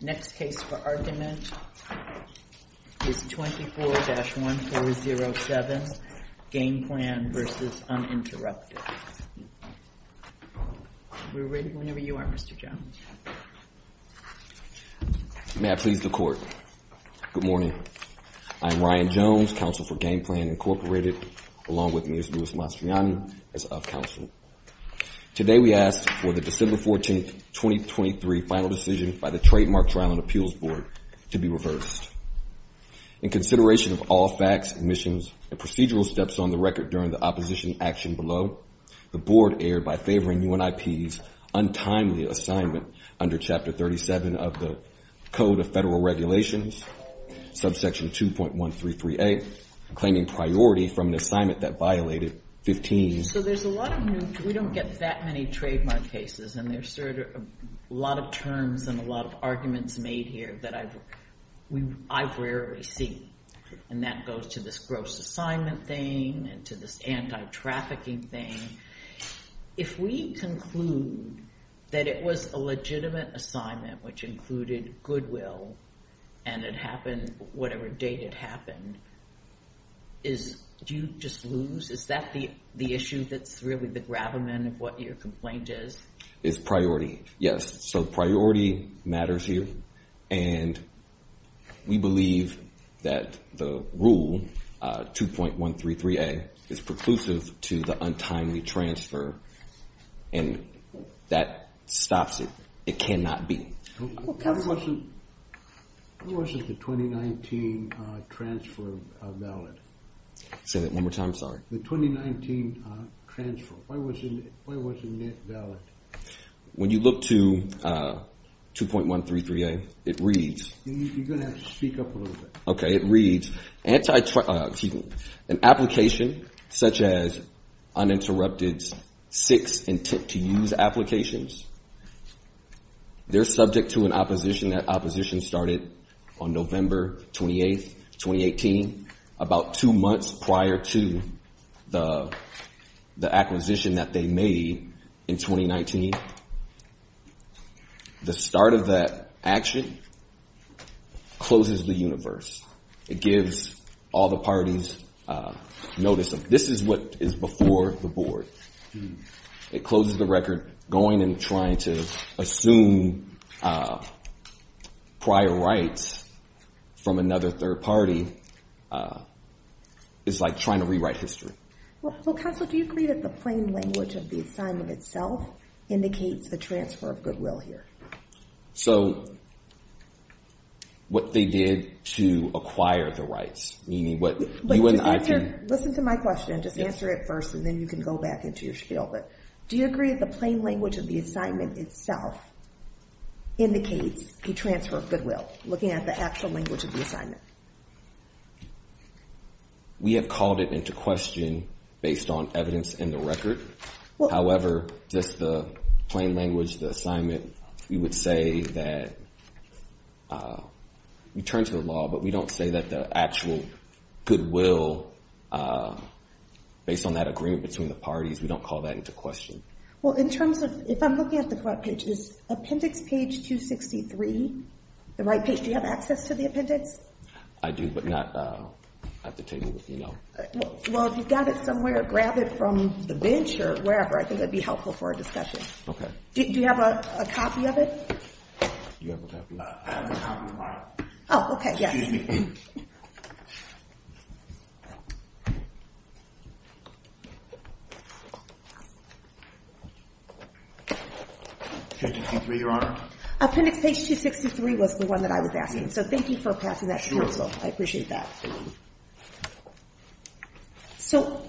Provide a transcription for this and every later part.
Next case for argument is 24-1407, Game Plan v. Uninterrupted. We're ready whenever you are, Mr. Jones. May I please the Court? Good morning. I am Ryan Jones, Counsel for Game Plan, Incorporated, along with Ms. Luis Mastriani, as of Counsel. Today we ask for the December 14, 2023, final decision by the Trademark Trial and Appeals Board to be reversed. In consideration of all facts, omissions, and procedural steps on the record during the opposition action below, the Board erred by favoring UNIP's untimely assignment under Chapter 37 of the Code of Federal Regulations, subsection 2.133a, claiming priority from an assignment that violated 15. So there's a lot of new—we don't get that many trademark cases, and there's a lot of terms and a lot of arguments made here that I've rarely seen, and that goes to this gross assignment thing and to this anti-trafficking thing. If we conclude that it was a legitimate assignment which included goodwill and it happened whatever date it happened, do you just lose? Is that the issue that's really the gravamen of what your complaint is? It's priority, yes. So priority matters here, and we believe that the rule 2.133a is preclusive to the untimely transfer, and that stops it. It cannot be. Why wasn't the 2019 transfer valid? Say that one more time, sorry. The 2019 transfer, why wasn't it valid? When you look to 2.133a, it reads— You're going to have to speak up a little bit. Okay, it reads, an application such as uninterrupted six intent to use applications, they're subject to an opposition. That opposition started on November 28, 2018, about two months prior to the acquisition that they made in 2019. The start of that action closes the universe. It gives all the parties notice of this is what is before the board. It closes the record. Going and trying to assume prior rights from another third party is like trying to rewrite history. Counsel, do you agree that the plain language of the assignment itself indicates the transfer of goodwill here? So what they did to acquire the rights, meaning what you and I— Listen to my question. Just answer it first, and then you can go back into your skill. Do you agree that the plain language of the assignment itself indicates a transfer of goodwill, looking at the actual language of the assignment? We have called it into question based on evidence in the record. However, just the plain language, the assignment, we would say that— We would turn to the law, but we don't say that the actual goodwill, based on that agreement between the parties, we don't call that into question. Well, in terms of—if I'm looking at the web page, is appendix page 263 the right page? Do you have access to the appendix? I do, but not at the table, you know. Well, if you've got it somewhere, grab it from the bench or wherever. I think that would be helpful for our discussion. Okay. Do you have a copy of it? Do you have a copy of it? I have a copy of it. Oh, okay. Yes. Excuse me. Page 263, Your Honor. Appendix page 263 was the one that I was asking. So thank you for passing that through as well. I appreciate that. So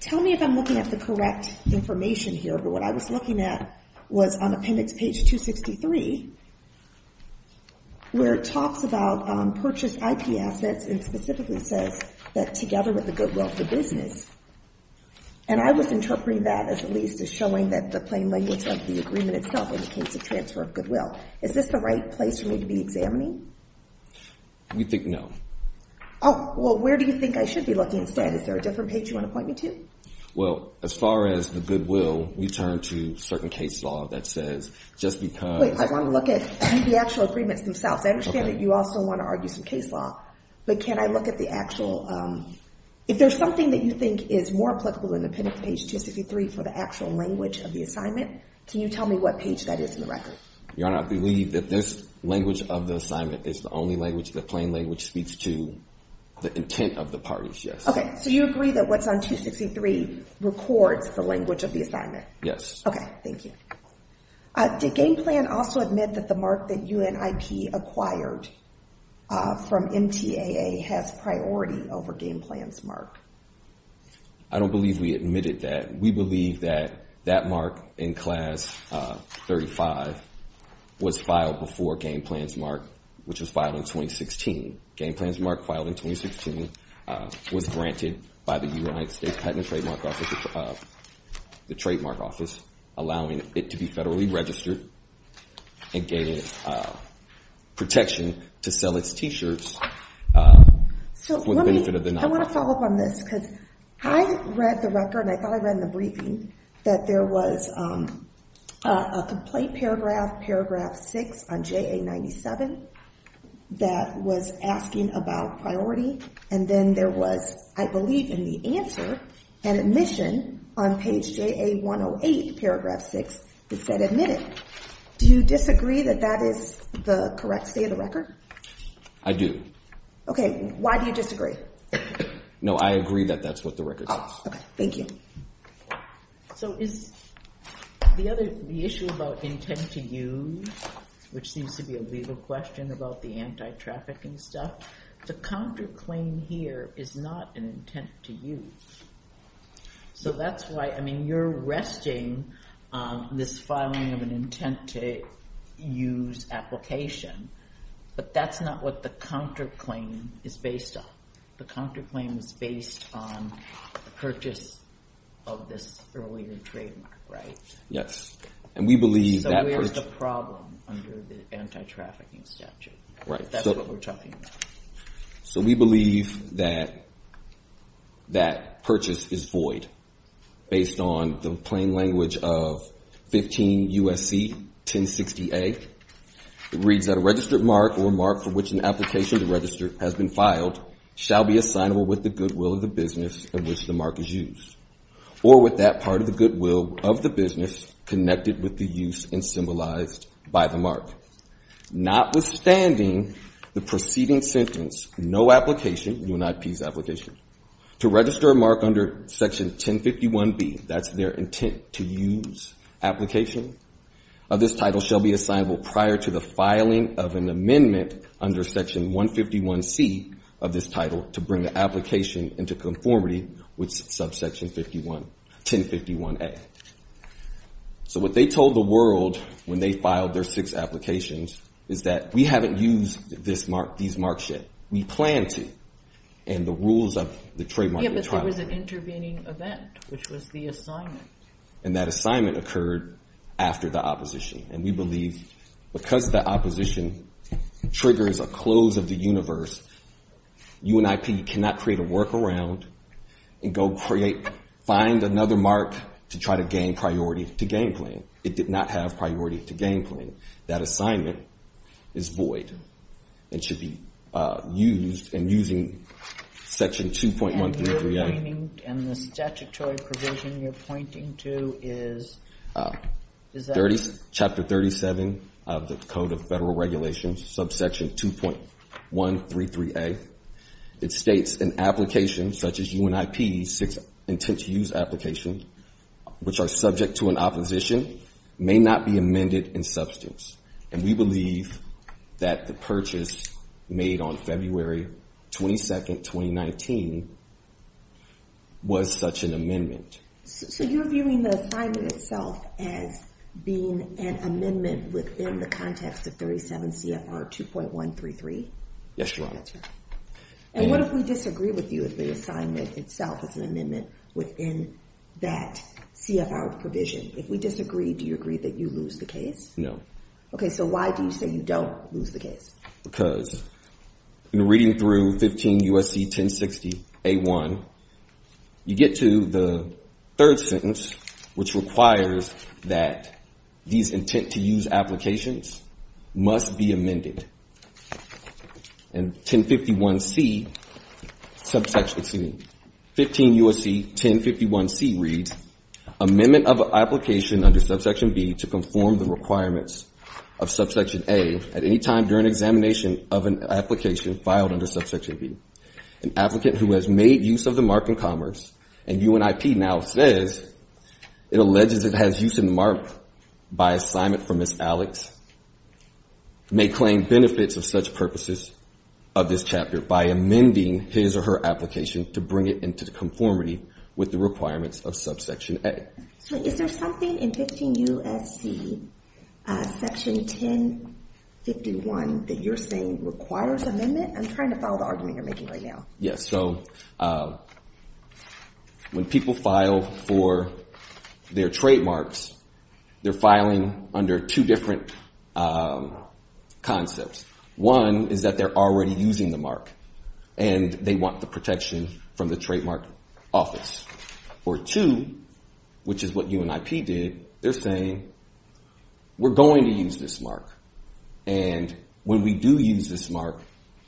tell me if I'm looking at the correct information here, but what I was looking at was on appendix page 263, where it talks about purchased IP assets and specifically says that together with the goodwill of the business. And I was interpreting that, at least, as showing that the plain language of the agreement itself indicates a transfer of goodwill. Is this the right place for me to be examining? We think no. Oh, well, where do you think I should be looking instead? Is there a different page you want to point me to? Well, as far as the goodwill, we turn to certain case law that says just because. Wait, I want to look at the actual agreements themselves. I understand that you also want to argue some case law, but can I look at the actual, if there's something that you think is more applicable than appendix page 263 for the actual language of the assignment, can you tell me what page that is in the record? Your Honor, I believe that this language of the assignment is the only language, the plain language speaks to the intent of the parties, yes. Okay, so you agree that what's on 263 records the language of the assignment? Yes. Okay, thank you. Did Game Plan also admit that the mark that UNIP acquired from MTAA has priority over Game Plan's mark? I don't believe we admitted that. We believe that that mark in Class 35 was filed before Game Plan's mark, which was filed in 2016. Game Plan's mark filed in 2016 was granted by the United States Patent and Trademark Office, the Trademark Office, allowing it to be federally registered and gaining protection to sell its T-shirts for the benefit of the non-profit. I want to follow up on this because I read the record, and I thought I read in the briefing, that there was a complaint paragraph, paragraph 6 on JA 97, that was asking about priority, and then there was, I believe in the answer, an admission on page JA 108, paragraph 6 that said admit it. Do you disagree that that is the correct state of the record? I do. Okay, why do you disagree? No, I agree that that's what the record says. Okay, thank you. So is the issue about intent to use, which seems to be a legal question about the anti-trafficking stuff, the counterclaim here is not an intent to use. So that's why, I mean, you're resting on this filing of an intent to use application, but that's not what the counterclaim is based on. The counterclaim is based on the purchase of this earlier trademark, right? Yes. So where's the problem under the anti-trafficking statute? That's what we're talking about. So we believe that that purchase is void, based on the plain language of 15 U.S.C. 1060A. It reads that a registered mark or mark for which an application to register has been filed shall be assignable with the goodwill of the business in which the mark is used, or with that part of the goodwill of the business connected with the use and symbolized by the mark. Notwithstanding the preceding sentence, no application, UNIP's application, to register a mark under Section 1051B, that's their intent to use application, of this title shall be assignable prior to the filing of an amendment under Section 151C of this title to bring the application into conformity with Subsection 1051A. So what they told the world when they filed their six applications is that, we haven't used these marks yet. We plan to, and the rules of the trademark- Yeah, but there was an intervening event, which was the assignment. And that assignment occurred after the opposition, and we believe because the opposition triggers a close of the universe, UNIP cannot create a workaround and go find another mark to try to gain priority to game plan. It did not have priority to game plan. That assignment is void and should be used, and using Section 2.133A. And the statutory provision you're pointing to is, is that- Chapter 37 of the Code of Federal Regulations, Subsection 2.133A. It states an application such as UNIP's intent to use application, which are subject to an opposition, may not be amended in substance. And we believe that the purchase made on February 22nd, 2019, was such an amendment. So you're viewing the assignment itself as being an amendment within the context of 37 CFR 2.133? Yes, Your Honor. And what if we disagree with you if the assignment itself is an amendment within that CFR provision? If we disagree, do you agree that you lose the case? No. Okay, so why do you say you don't lose the case? Because in reading through 15 U.S.C. 1060A.1, you get to the third sentence, which requires that these intent to use applications must be amended. And 1051C, 15 U.S.C. 1051C reads, Amendment of an application under Subsection B to conform the requirements of Subsection A at any time during examination of an application filed under Subsection B. An applicant who has made use of the mark in commerce, and UNIP now says it alleges it has used the mark by assignment for Ms. Alex, may claim benefits of such purposes of this chapter by amending his or her application to bring it into conformity with the requirements of Subsection A. So is there something in 15 U.S.C. Section 1051 that you're saying requires amendment? I'm trying to follow the argument you're making right now. Yes, so when people file for their trademarks, they're filing under two different concepts. One is that they're already using the mark, and they want the protection from the trademark office. Or two, which is what UNIP did, they're saying, we're going to use this mark. And when we do use this mark,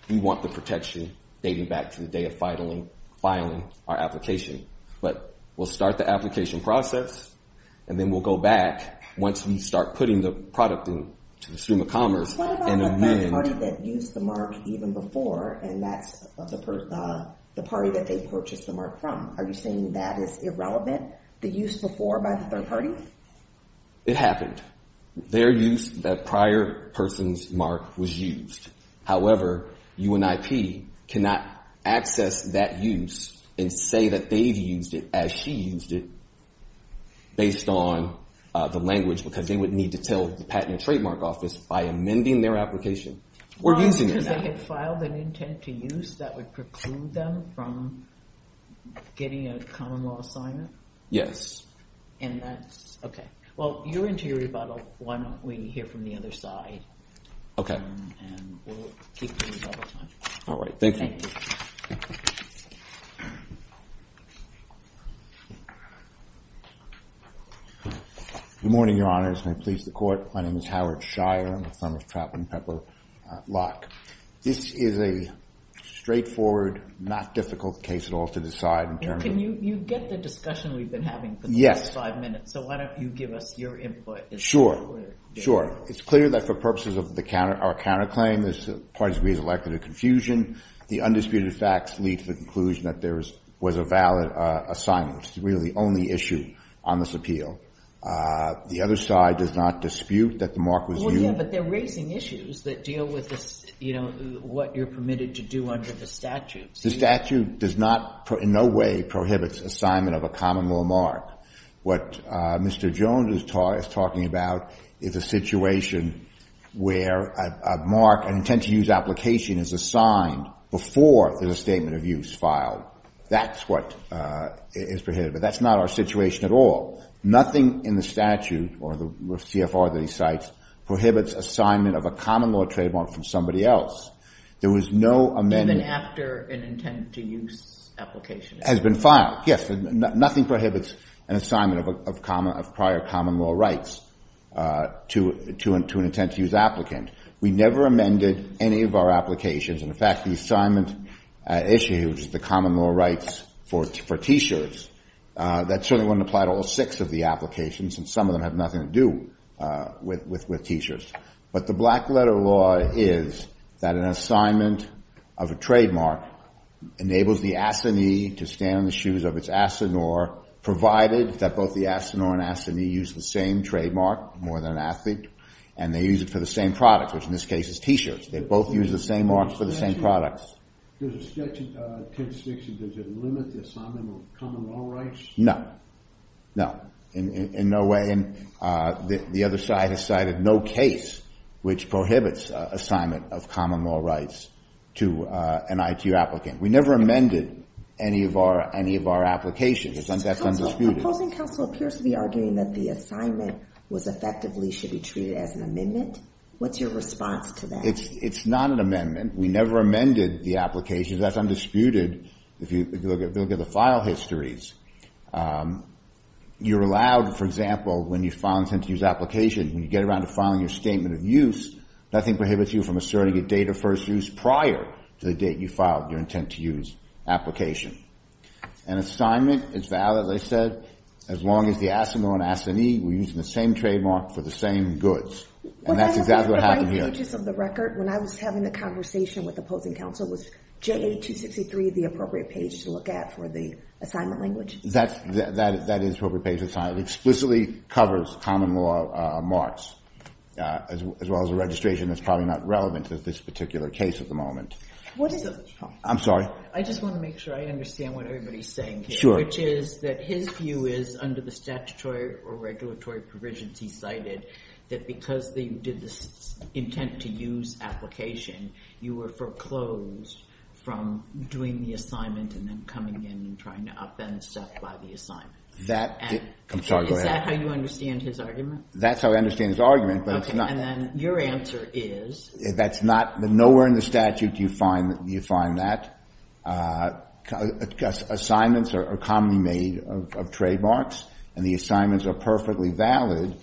we want the protection dating back to the day of filing our application. But we'll start the application process, and then we'll go back once we start putting the product into the stream of commerce and amend. So what about the third party that used the mark even before, and that's the party that they purchased the mark from? Are you saying that is irrelevant, the use before by the third party? It happened. Their use, that prior person's mark was used. However, UNIP cannot access that use and say that they've used it as she used it based on the language because they would need to tell the Patent and Trademark Office, by amending their application, we're using it. Because they had filed an intent to use that would preclude them from getting a common law assignment? Yes. And that's, OK. Well, you're into your rebuttal. Why don't we hear from the other side? OK. And we'll keep doing rebuttal time. All right, thank you. Thank you. Good morning, Your Honors. May it please the Court. My name is Howard Shire. I'm a firm of Trapp and Pepper Locke. This is a straightforward, not difficult case at all to decide in terms of- Can you get the discussion we've been having for the last five minutes? Yes. So why don't you give us your input? Sure. Sure. It's clear that for purposes of our counterclaim, this party has been elected to confusion. The undisputed facts lead to the conclusion that there was a valid assignment. It's really the only issue on this appeal. The other side does not dispute that the mark was used- Well, yeah, but they're raising issues that deal with what you're permitted to do under the statute. The statute does not, in no way, prohibits assignment of a common law mark. What Mr. Jones is talking about is a situation where a mark, an intent to use application, is assigned before there's a statement of use filed. That's what is prohibited, but that's not our situation at all. Nothing in the statute or the CFR that he cites prohibits assignment of a common law trademark from somebody else. There was no amendment- Even after an intent to use application. Has been filed, yes. Nothing prohibits an assignment of prior common law rights to an intent to use applicant. We never amended any of our applications. In fact, the assignment issue, which is the common law rights for T-shirts, that certainly wouldn't apply to all six of the applications, since some of them have nothing to do with T-shirts. But the black-letter law is that an assignment of a trademark enables the assignee to stand on the shoes of its assinore, provided that both the assinore and assignee use the same trademark, more than an athlete, and they use it for the same product, which in this case is T-shirts. They both use the same marks for the same products. In the statute, does it limit the assignment of common law rights? No. No. In no way. The other side has cited no case which prohibits assignment of common law rights to an ITU applicant. We never amended any of our applications. That's undisputed. The opposing counsel appears to be arguing that the assignment was effectively should be treated as an amendment. What's your response to that? It's not an amendment. We never amended the applications. That's undisputed if you look at the file histories. You're allowed, for example, when you file an intent-to-use application, when you get around to filing your statement of use, nothing prohibits you from asserting a date of first use prior to the date you filed your intent-to-use application. An assignment is valid, as I said, as long as the assinore and assignee were using the same trademark for the same goods. And that's exactly what happened here. When I was having the conversation with opposing counsel, was JA-263 the appropriate page to look at for the assignment language? That is the appropriate page. It explicitly covers common law marks, as well as a registration that's probably not relevant to this particular case at the moment. I'm sorry. I just want to make sure I understand what everybody is saying here, which is that his view is under the statutory or regulatory provisions he cited that because they did this intent-to-use application, you were foreclosed from doing the assignment and then coming in and trying to upend stuff by the assignment. I'm sorry, go ahead. Is that how you understand his argument? That's how I understand his argument, but it's not. Okay, and then your answer is? That's not, nowhere in the statute do you find that. Assignments are commonly made of trademarks, and the assignments are perfectly valid.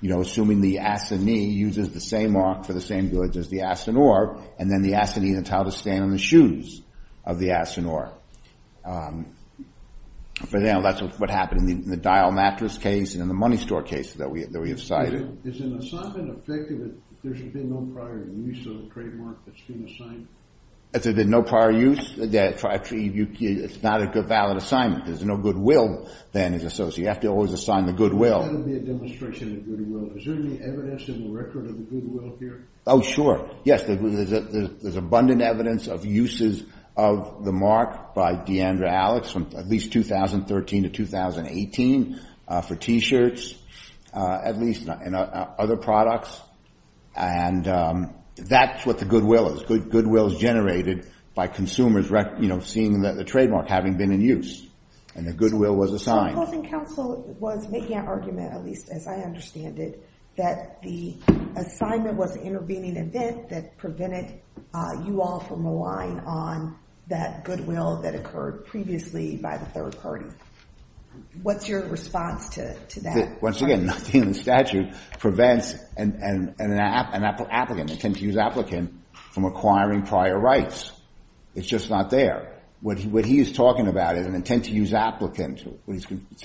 You know, assuming the assignee uses the same mark for the same goods as the assignor, and then the assignee is entitled to stand on the shoes of the assignor. But, you know, that's what happened in the dial mattress case and in the money store case that we have cited. Is an assignment effective if there's been no prior use of the trademark that's been assigned? If there's been no prior use, it's not a valid assignment. There's no goodwill, then, associated. You have to always assign the goodwill. I thought that would be a demonstration of goodwill. Is there any evidence of a record of a goodwill here? Oh, sure. Yes, there's abundant evidence of uses of the mark by Deandra Alex from at least 2013 to 2018 for T-shirts, at least, and other products. And that's what the goodwill is. Goodwill is generated by consumers, you know, seeing the trademark having been in use, and the goodwill was assigned. So the closing counsel was making an argument, at least as I understand it, that the assignment was an intervening event that prevented you all from relying on that goodwill that occurred previously by the third party. What's your response to that? Once again, nothing in the statute prevents an applicant, an intent to use applicant, from acquiring prior rights. It's just not there. What he is talking about is an intent to use applicant.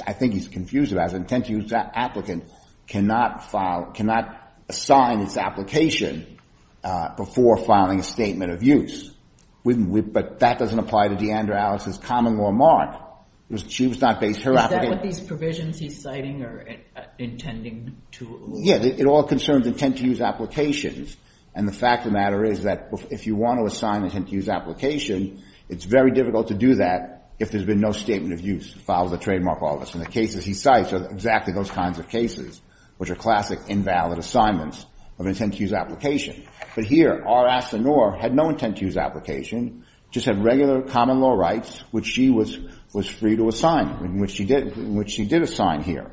I think he's confused about it. An intent to use applicant cannot assign its application before filing a statement of use. But that doesn't apply to Deandra Alex's common law mark. She was not based on her application. Is that what these provisions he's citing are intending to? Yes, it all concerns intent to use applications. And the fact of the matter is that if you want to assign an intent to use application, it's very difficult to do that if there's been no statement of use. Follow the trademark, all of us. And the cases he cites are exactly those kinds of cases, which are classic invalid assignments of intent to use application. But here, R. Asanoor had no intent to use application, just had regular common law rights, which she was free to assign, which she did assign here.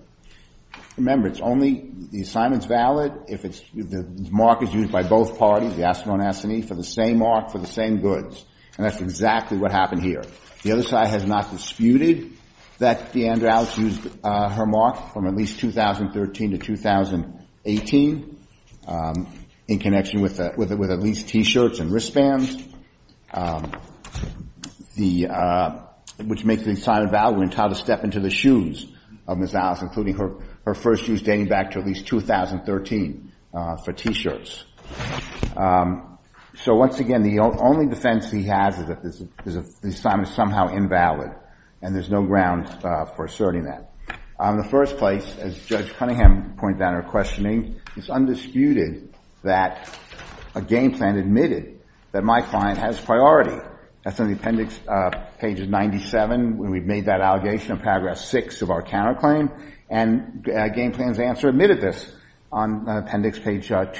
Remember, it's only the assignment's valid if the mark is used by both parties, the Asanoor and Assanee, for the same mark for the same goods. And that's exactly what happened here. The other side has not disputed that Deandra Alex used her mark from at least 2013 to 2018 in connection with at least T-shirts and wristbands, which makes the assignment valid when entitled to step into the shoes of Ms. Alex, including her first use dating back to at least 2013 for T-shirts. So once again, the only defense he has is that the assignment is somehow invalid, and there's no ground for asserting that. In the first place, as Judge Cunningham pointed out in her questioning, it's undisputed that a game plan admitted that my client has priority. That's on the appendix, page 97, when we've made that allegation in paragraph 6 of our counterclaim. And a game plan's answer admitted this on appendix page 108.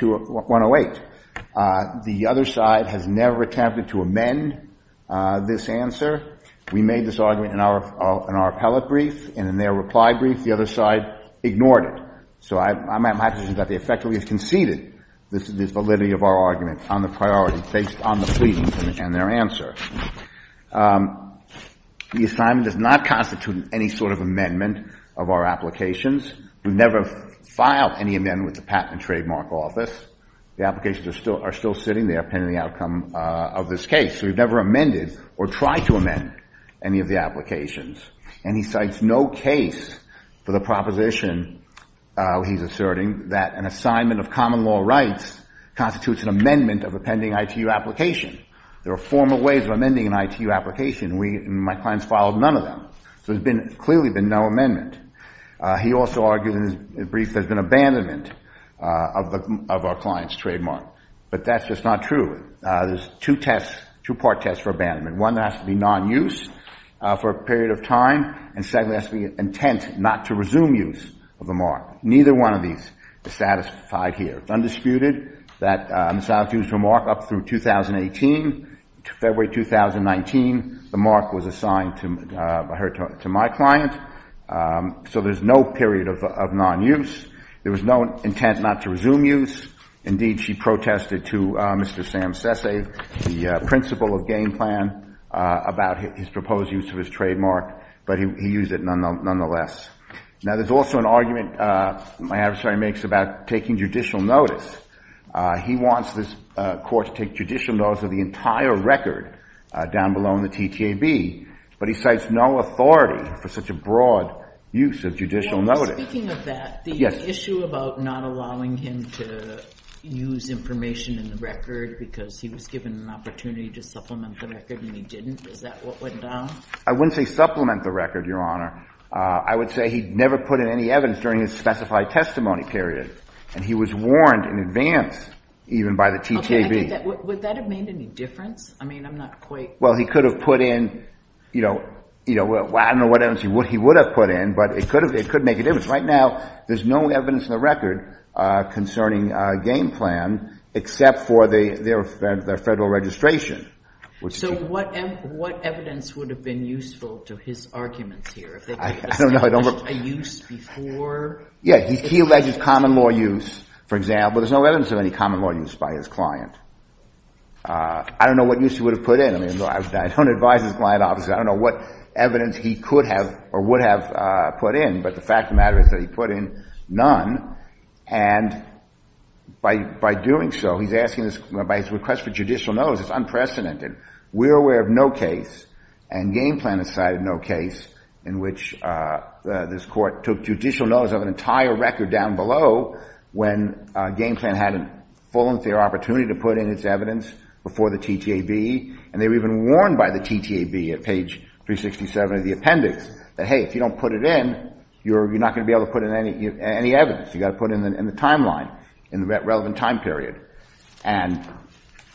The other side has never attempted to amend this answer. We made this argument in our appellate brief, and in their reply brief, the other side ignored it. So I'm at my position that they effectively have conceded this validity of our argument on the priority based on the plea and their answer. The assignment does not constitute any sort of amendment of our applications. We've never filed any amendment with the Patent and Trademark Office. The applications are still sitting there pending the outcome of this case. So we've never amended or tried to amend any of the applications. And he cites no case for the proposition, he's asserting, that an assignment of common law rights constitutes an amendment of a pending ITU application. There are formal ways of amending an ITU application, and my client's filed none of them. So there's clearly been no amendment. He also argued in his brief there's been abandonment of our client's trademark. But that's just not true. There's two tests, two part tests for abandonment. One that has to be non-use for a period of time, and secondly has to be intent not to resume use of the mark. Neither one of these is satisfied here. It's undisputed that Ms. Adams used her mark up through 2018, February 2019. The mark was assigned to her, to my client. So there's no period of non-use. There was no intent not to resume use. Indeed, she protested to Mr. Sam Sese, the principal of Game Plan, about his proposed use of his trademark. But he used it nonetheless. Now, there's also an argument my adversary makes about taking judicial notice. He wants this court to take judicial notice of the entire record down below in the TTAB, but he cites no authority for such a broad use of judicial notice. And speaking of that, the issue about not allowing him to use information in the record because he was given an opportunity to supplement the record and he didn't, is that what went down? I wouldn't say supplement the record, Your Honor. I would say he never put in any evidence during his specified testimony period, and he was warned in advance even by the TTAB. Would that have made any difference? I mean, I'm not quite— Well, he could have put in—I don't know what evidence he would have put in, but it could make a difference. Right now, there's no evidence in the record concerning Game Plan except for their federal registration. So what evidence would have been useful to his arguments here? I don't know. A use before? Yeah. He alleges common law use, for example. There's no evidence of any common law use by his client. I don't know what use he would have put in. I mean, I don't advise his client, obviously. I don't know what evidence he could have or would have put in, but the fact of the matter is that he put in none. And by doing so, he's asking this—by his request for judicial notice, it's unprecedented. We're aware of no case, and Game Plan decided no case, in which this Court took judicial notice of an entire record down below when Game Plan had a full and fair opportunity to put in its evidence before the TTAB, and they were even warned by the TTAB at page 367 of the appendix that, hey, if you don't put it in, you're not going to be able to put in any evidence. You've got to put it in the timeline, in the relevant time period. And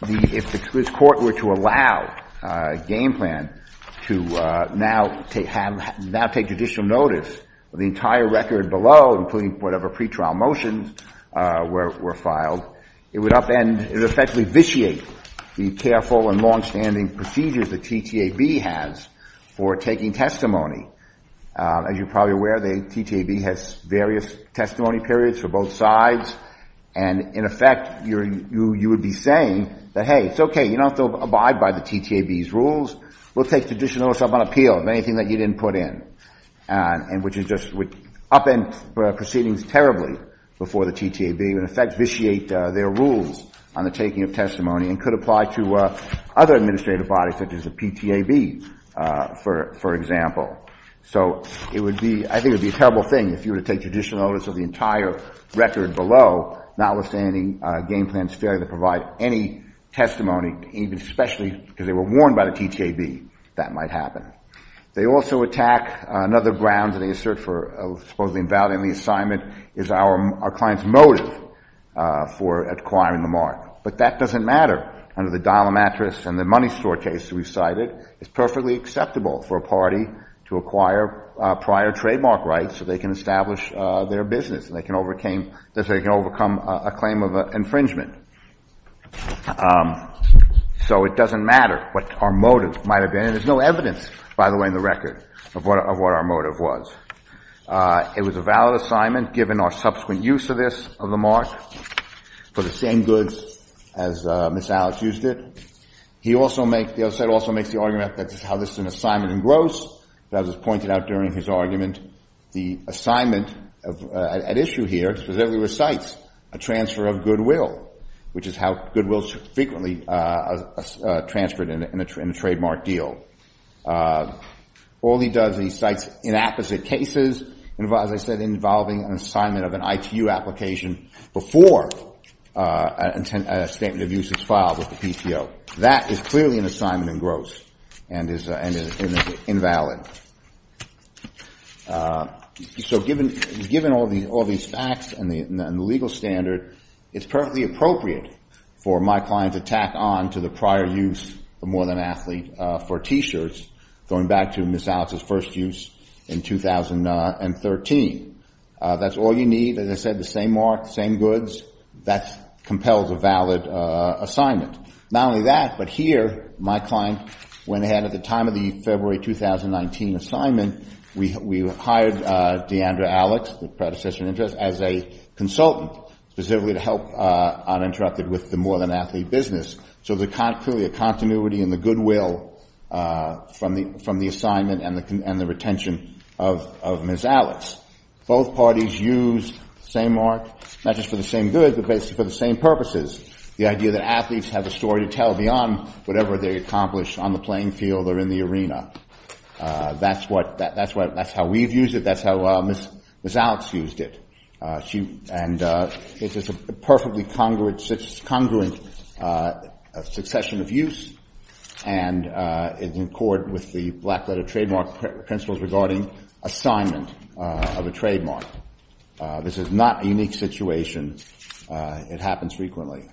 if this Court were to allow Game Plan to now take judicial notice of the entire record below, including whatever pretrial motions were filed, it would upend—it would effectively vitiate the careful and longstanding procedures the TTAB has for taking testimony. As you're probably aware, the TTAB has various testimony periods for both sides, and in effect, you would be saying that, hey, it's okay, you don't have to abide by the TTAB's rules. We'll take judicial notice of an appeal of anything that you didn't put in, and which is just—upend proceedings terribly before the TTAB, and in effect vitiate their rules on the taking of testimony, and could apply to other administrative bodies such as the PTAB, for example. So it would be—I think it would be a terrible thing if you were to take judicial notice of the entire record below, notwithstanding Game Plan's failure to provide any testimony, even especially because they were warned by the TTAB, that might happen. They also attack another ground that they assert for supposedly invalidating the assignment is our client's motive for acquiring the mark. But that doesn't matter. Under the dollar mattress and the money store case we've cited, it's perfectly acceptable for a party to acquire prior trademark rights so they can establish their business and they can overcome a claim of infringement. So it doesn't matter what our motive might have been, and there's no evidence, by the way, in the record of what our motive was. It was a valid assignment, given our subsequent use of this, of the mark, for the same goods as Ms. Alex used it. He also makes—the other side also makes the argument that this is how this is an assignment in gross. As was pointed out during his argument, the assignment at issue here specifically recites a transfer of goodwill, which is how goodwill is frequently transferred in a trademark deal. All he does is he cites inapposite cases, as I said, involving an assignment of an ITU application before a statement of use is filed with the PTO. That is clearly an assignment in gross and is invalid. So given all these facts and the legal standard, it's perfectly appropriate for my client to tack on to the prior use of More Than Athlete for T-shirts, going back to Ms. Alex's first use in 2013. That's all you need. As I said, the same mark, the same goods. That compels a valid assignment. Not only that, but here my client went ahead at the time of the February 2019 assignment. We hired Deandra Alex, the predecessor in interest, as a consultant, specifically to help uninterrupted with the More Than Athlete business. So there's clearly a continuity in the goodwill from the assignment and the retention of Ms. Alex. Both parties used the same mark, not just for the same good, but basically for the same purposes, the idea that athletes have a story to tell beyond whatever they accomplish on the playing field or in the arena. That's how we've used it. That's how Ms. Alex used it. And it's a perfectly congruent succession of use, and in accord with the black-letter trademark principles regarding assignment of a trademark. This is not a unique situation. It happens frequently.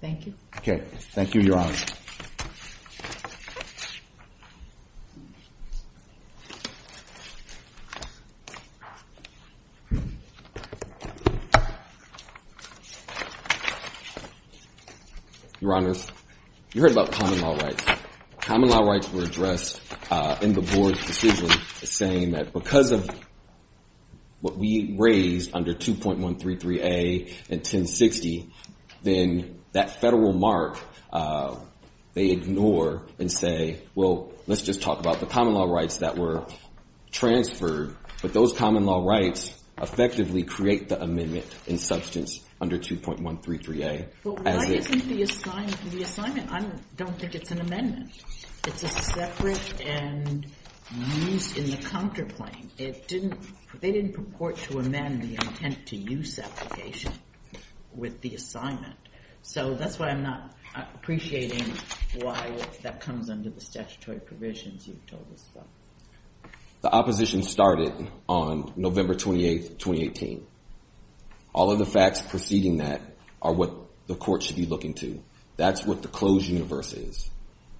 Thank you. Okay. Thank you, Your Honor. Your Honor, you heard about common law rights. Common law rights were addressed in the board's decision saying that because of what we raised under 2.133A and 1060, then that federal mark they ignore and say, well, let's just talk about the common law rights that were transferred. But those common law rights effectively create the amendment in substance under 2.133A. But why isn't the assignment? I don't think it's an amendment. It's a separate and used in the counterclaim. They didn't purport to amend the intent-to-use application with the assignment. So that's why I'm not appreciating why that comes under the statutory provisions you've told us about. The opposition started on November 28, 2018. All of the facts preceding that are what the court should be looking to. That's what the closed universe is.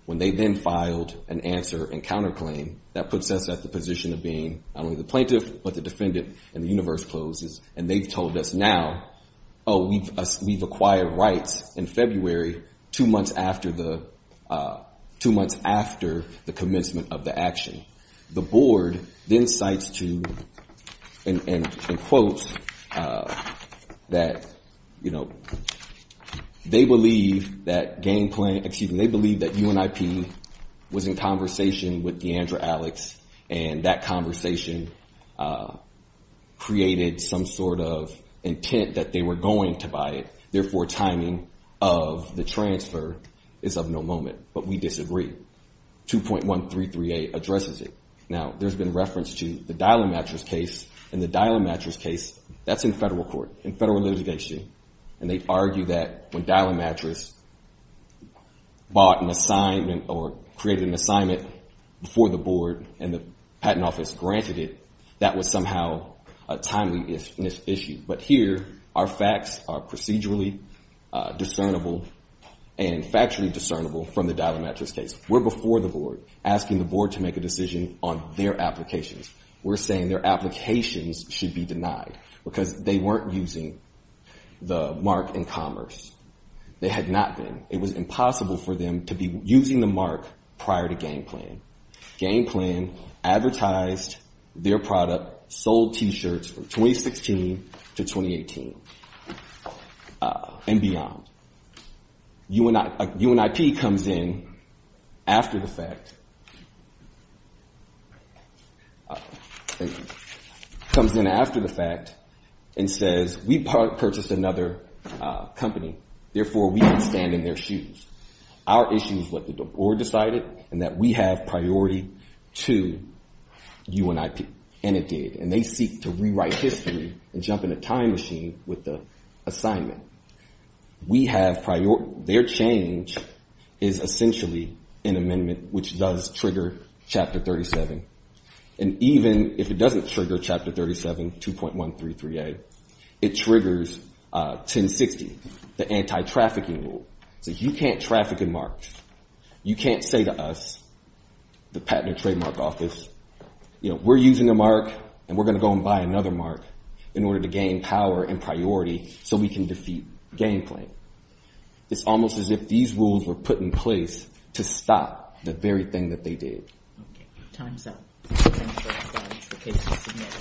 When they then filed an answer in counterclaim, that puts us at the position of being not only the plaintiff, but the defendant, and the universe closes. And they've told us now, oh, we've acquired rights in February, two months after the commencement of the action. The board then cites two in quotes that they believe that UNIP was in conversation with Deandra Alex, and that conversation created some sort of intent that they were going to buy it. Therefore, timing of the transfer is of no moment. But we disagree. 2.133a addresses it. Now, there's been reference to the dial-a-mattress case, and the dial-a-mattress case, that's in federal court, in federal litigation. And they argue that when dial-a-mattress bought an assignment or created an assignment before the board and the patent office granted it, that was somehow a timely issue. But here, our facts are procedurally discernible and factually discernible from the dial-a-mattress case. We're before the board, asking the board to make a decision on their applications. We're saying their applications should be denied because they weren't using the mark in commerce. They had not been. It was impossible for them to be using the mark prior to game plan. Game plan advertised their product, sold T-shirts from 2016 to 2018 and beyond. UNIP comes in after the fact and says, we purchased another company. Therefore, we can stand in their shoes. Our issue is what the board decided and that we have priority to UNIP. And it did. And they seek to rewrite history and jump in a time machine with the assignment. We have priority. Their change is essentially an amendment which does trigger Chapter 37. And even if it doesn't trigger Chapter 37, 2.133a, it triggers 1060, the anti-trafficking rule. It says you can't traffic a mark. You can't say to us, the Patent and Trademark Office, we're using a mark and we're going to go and buy another mark in order to gain power and priority so we can defeat game plan. It's almost as if these rules were put in place to stop the very thing that they did. Okay. Time's up. Thank you very much. The case is submitted.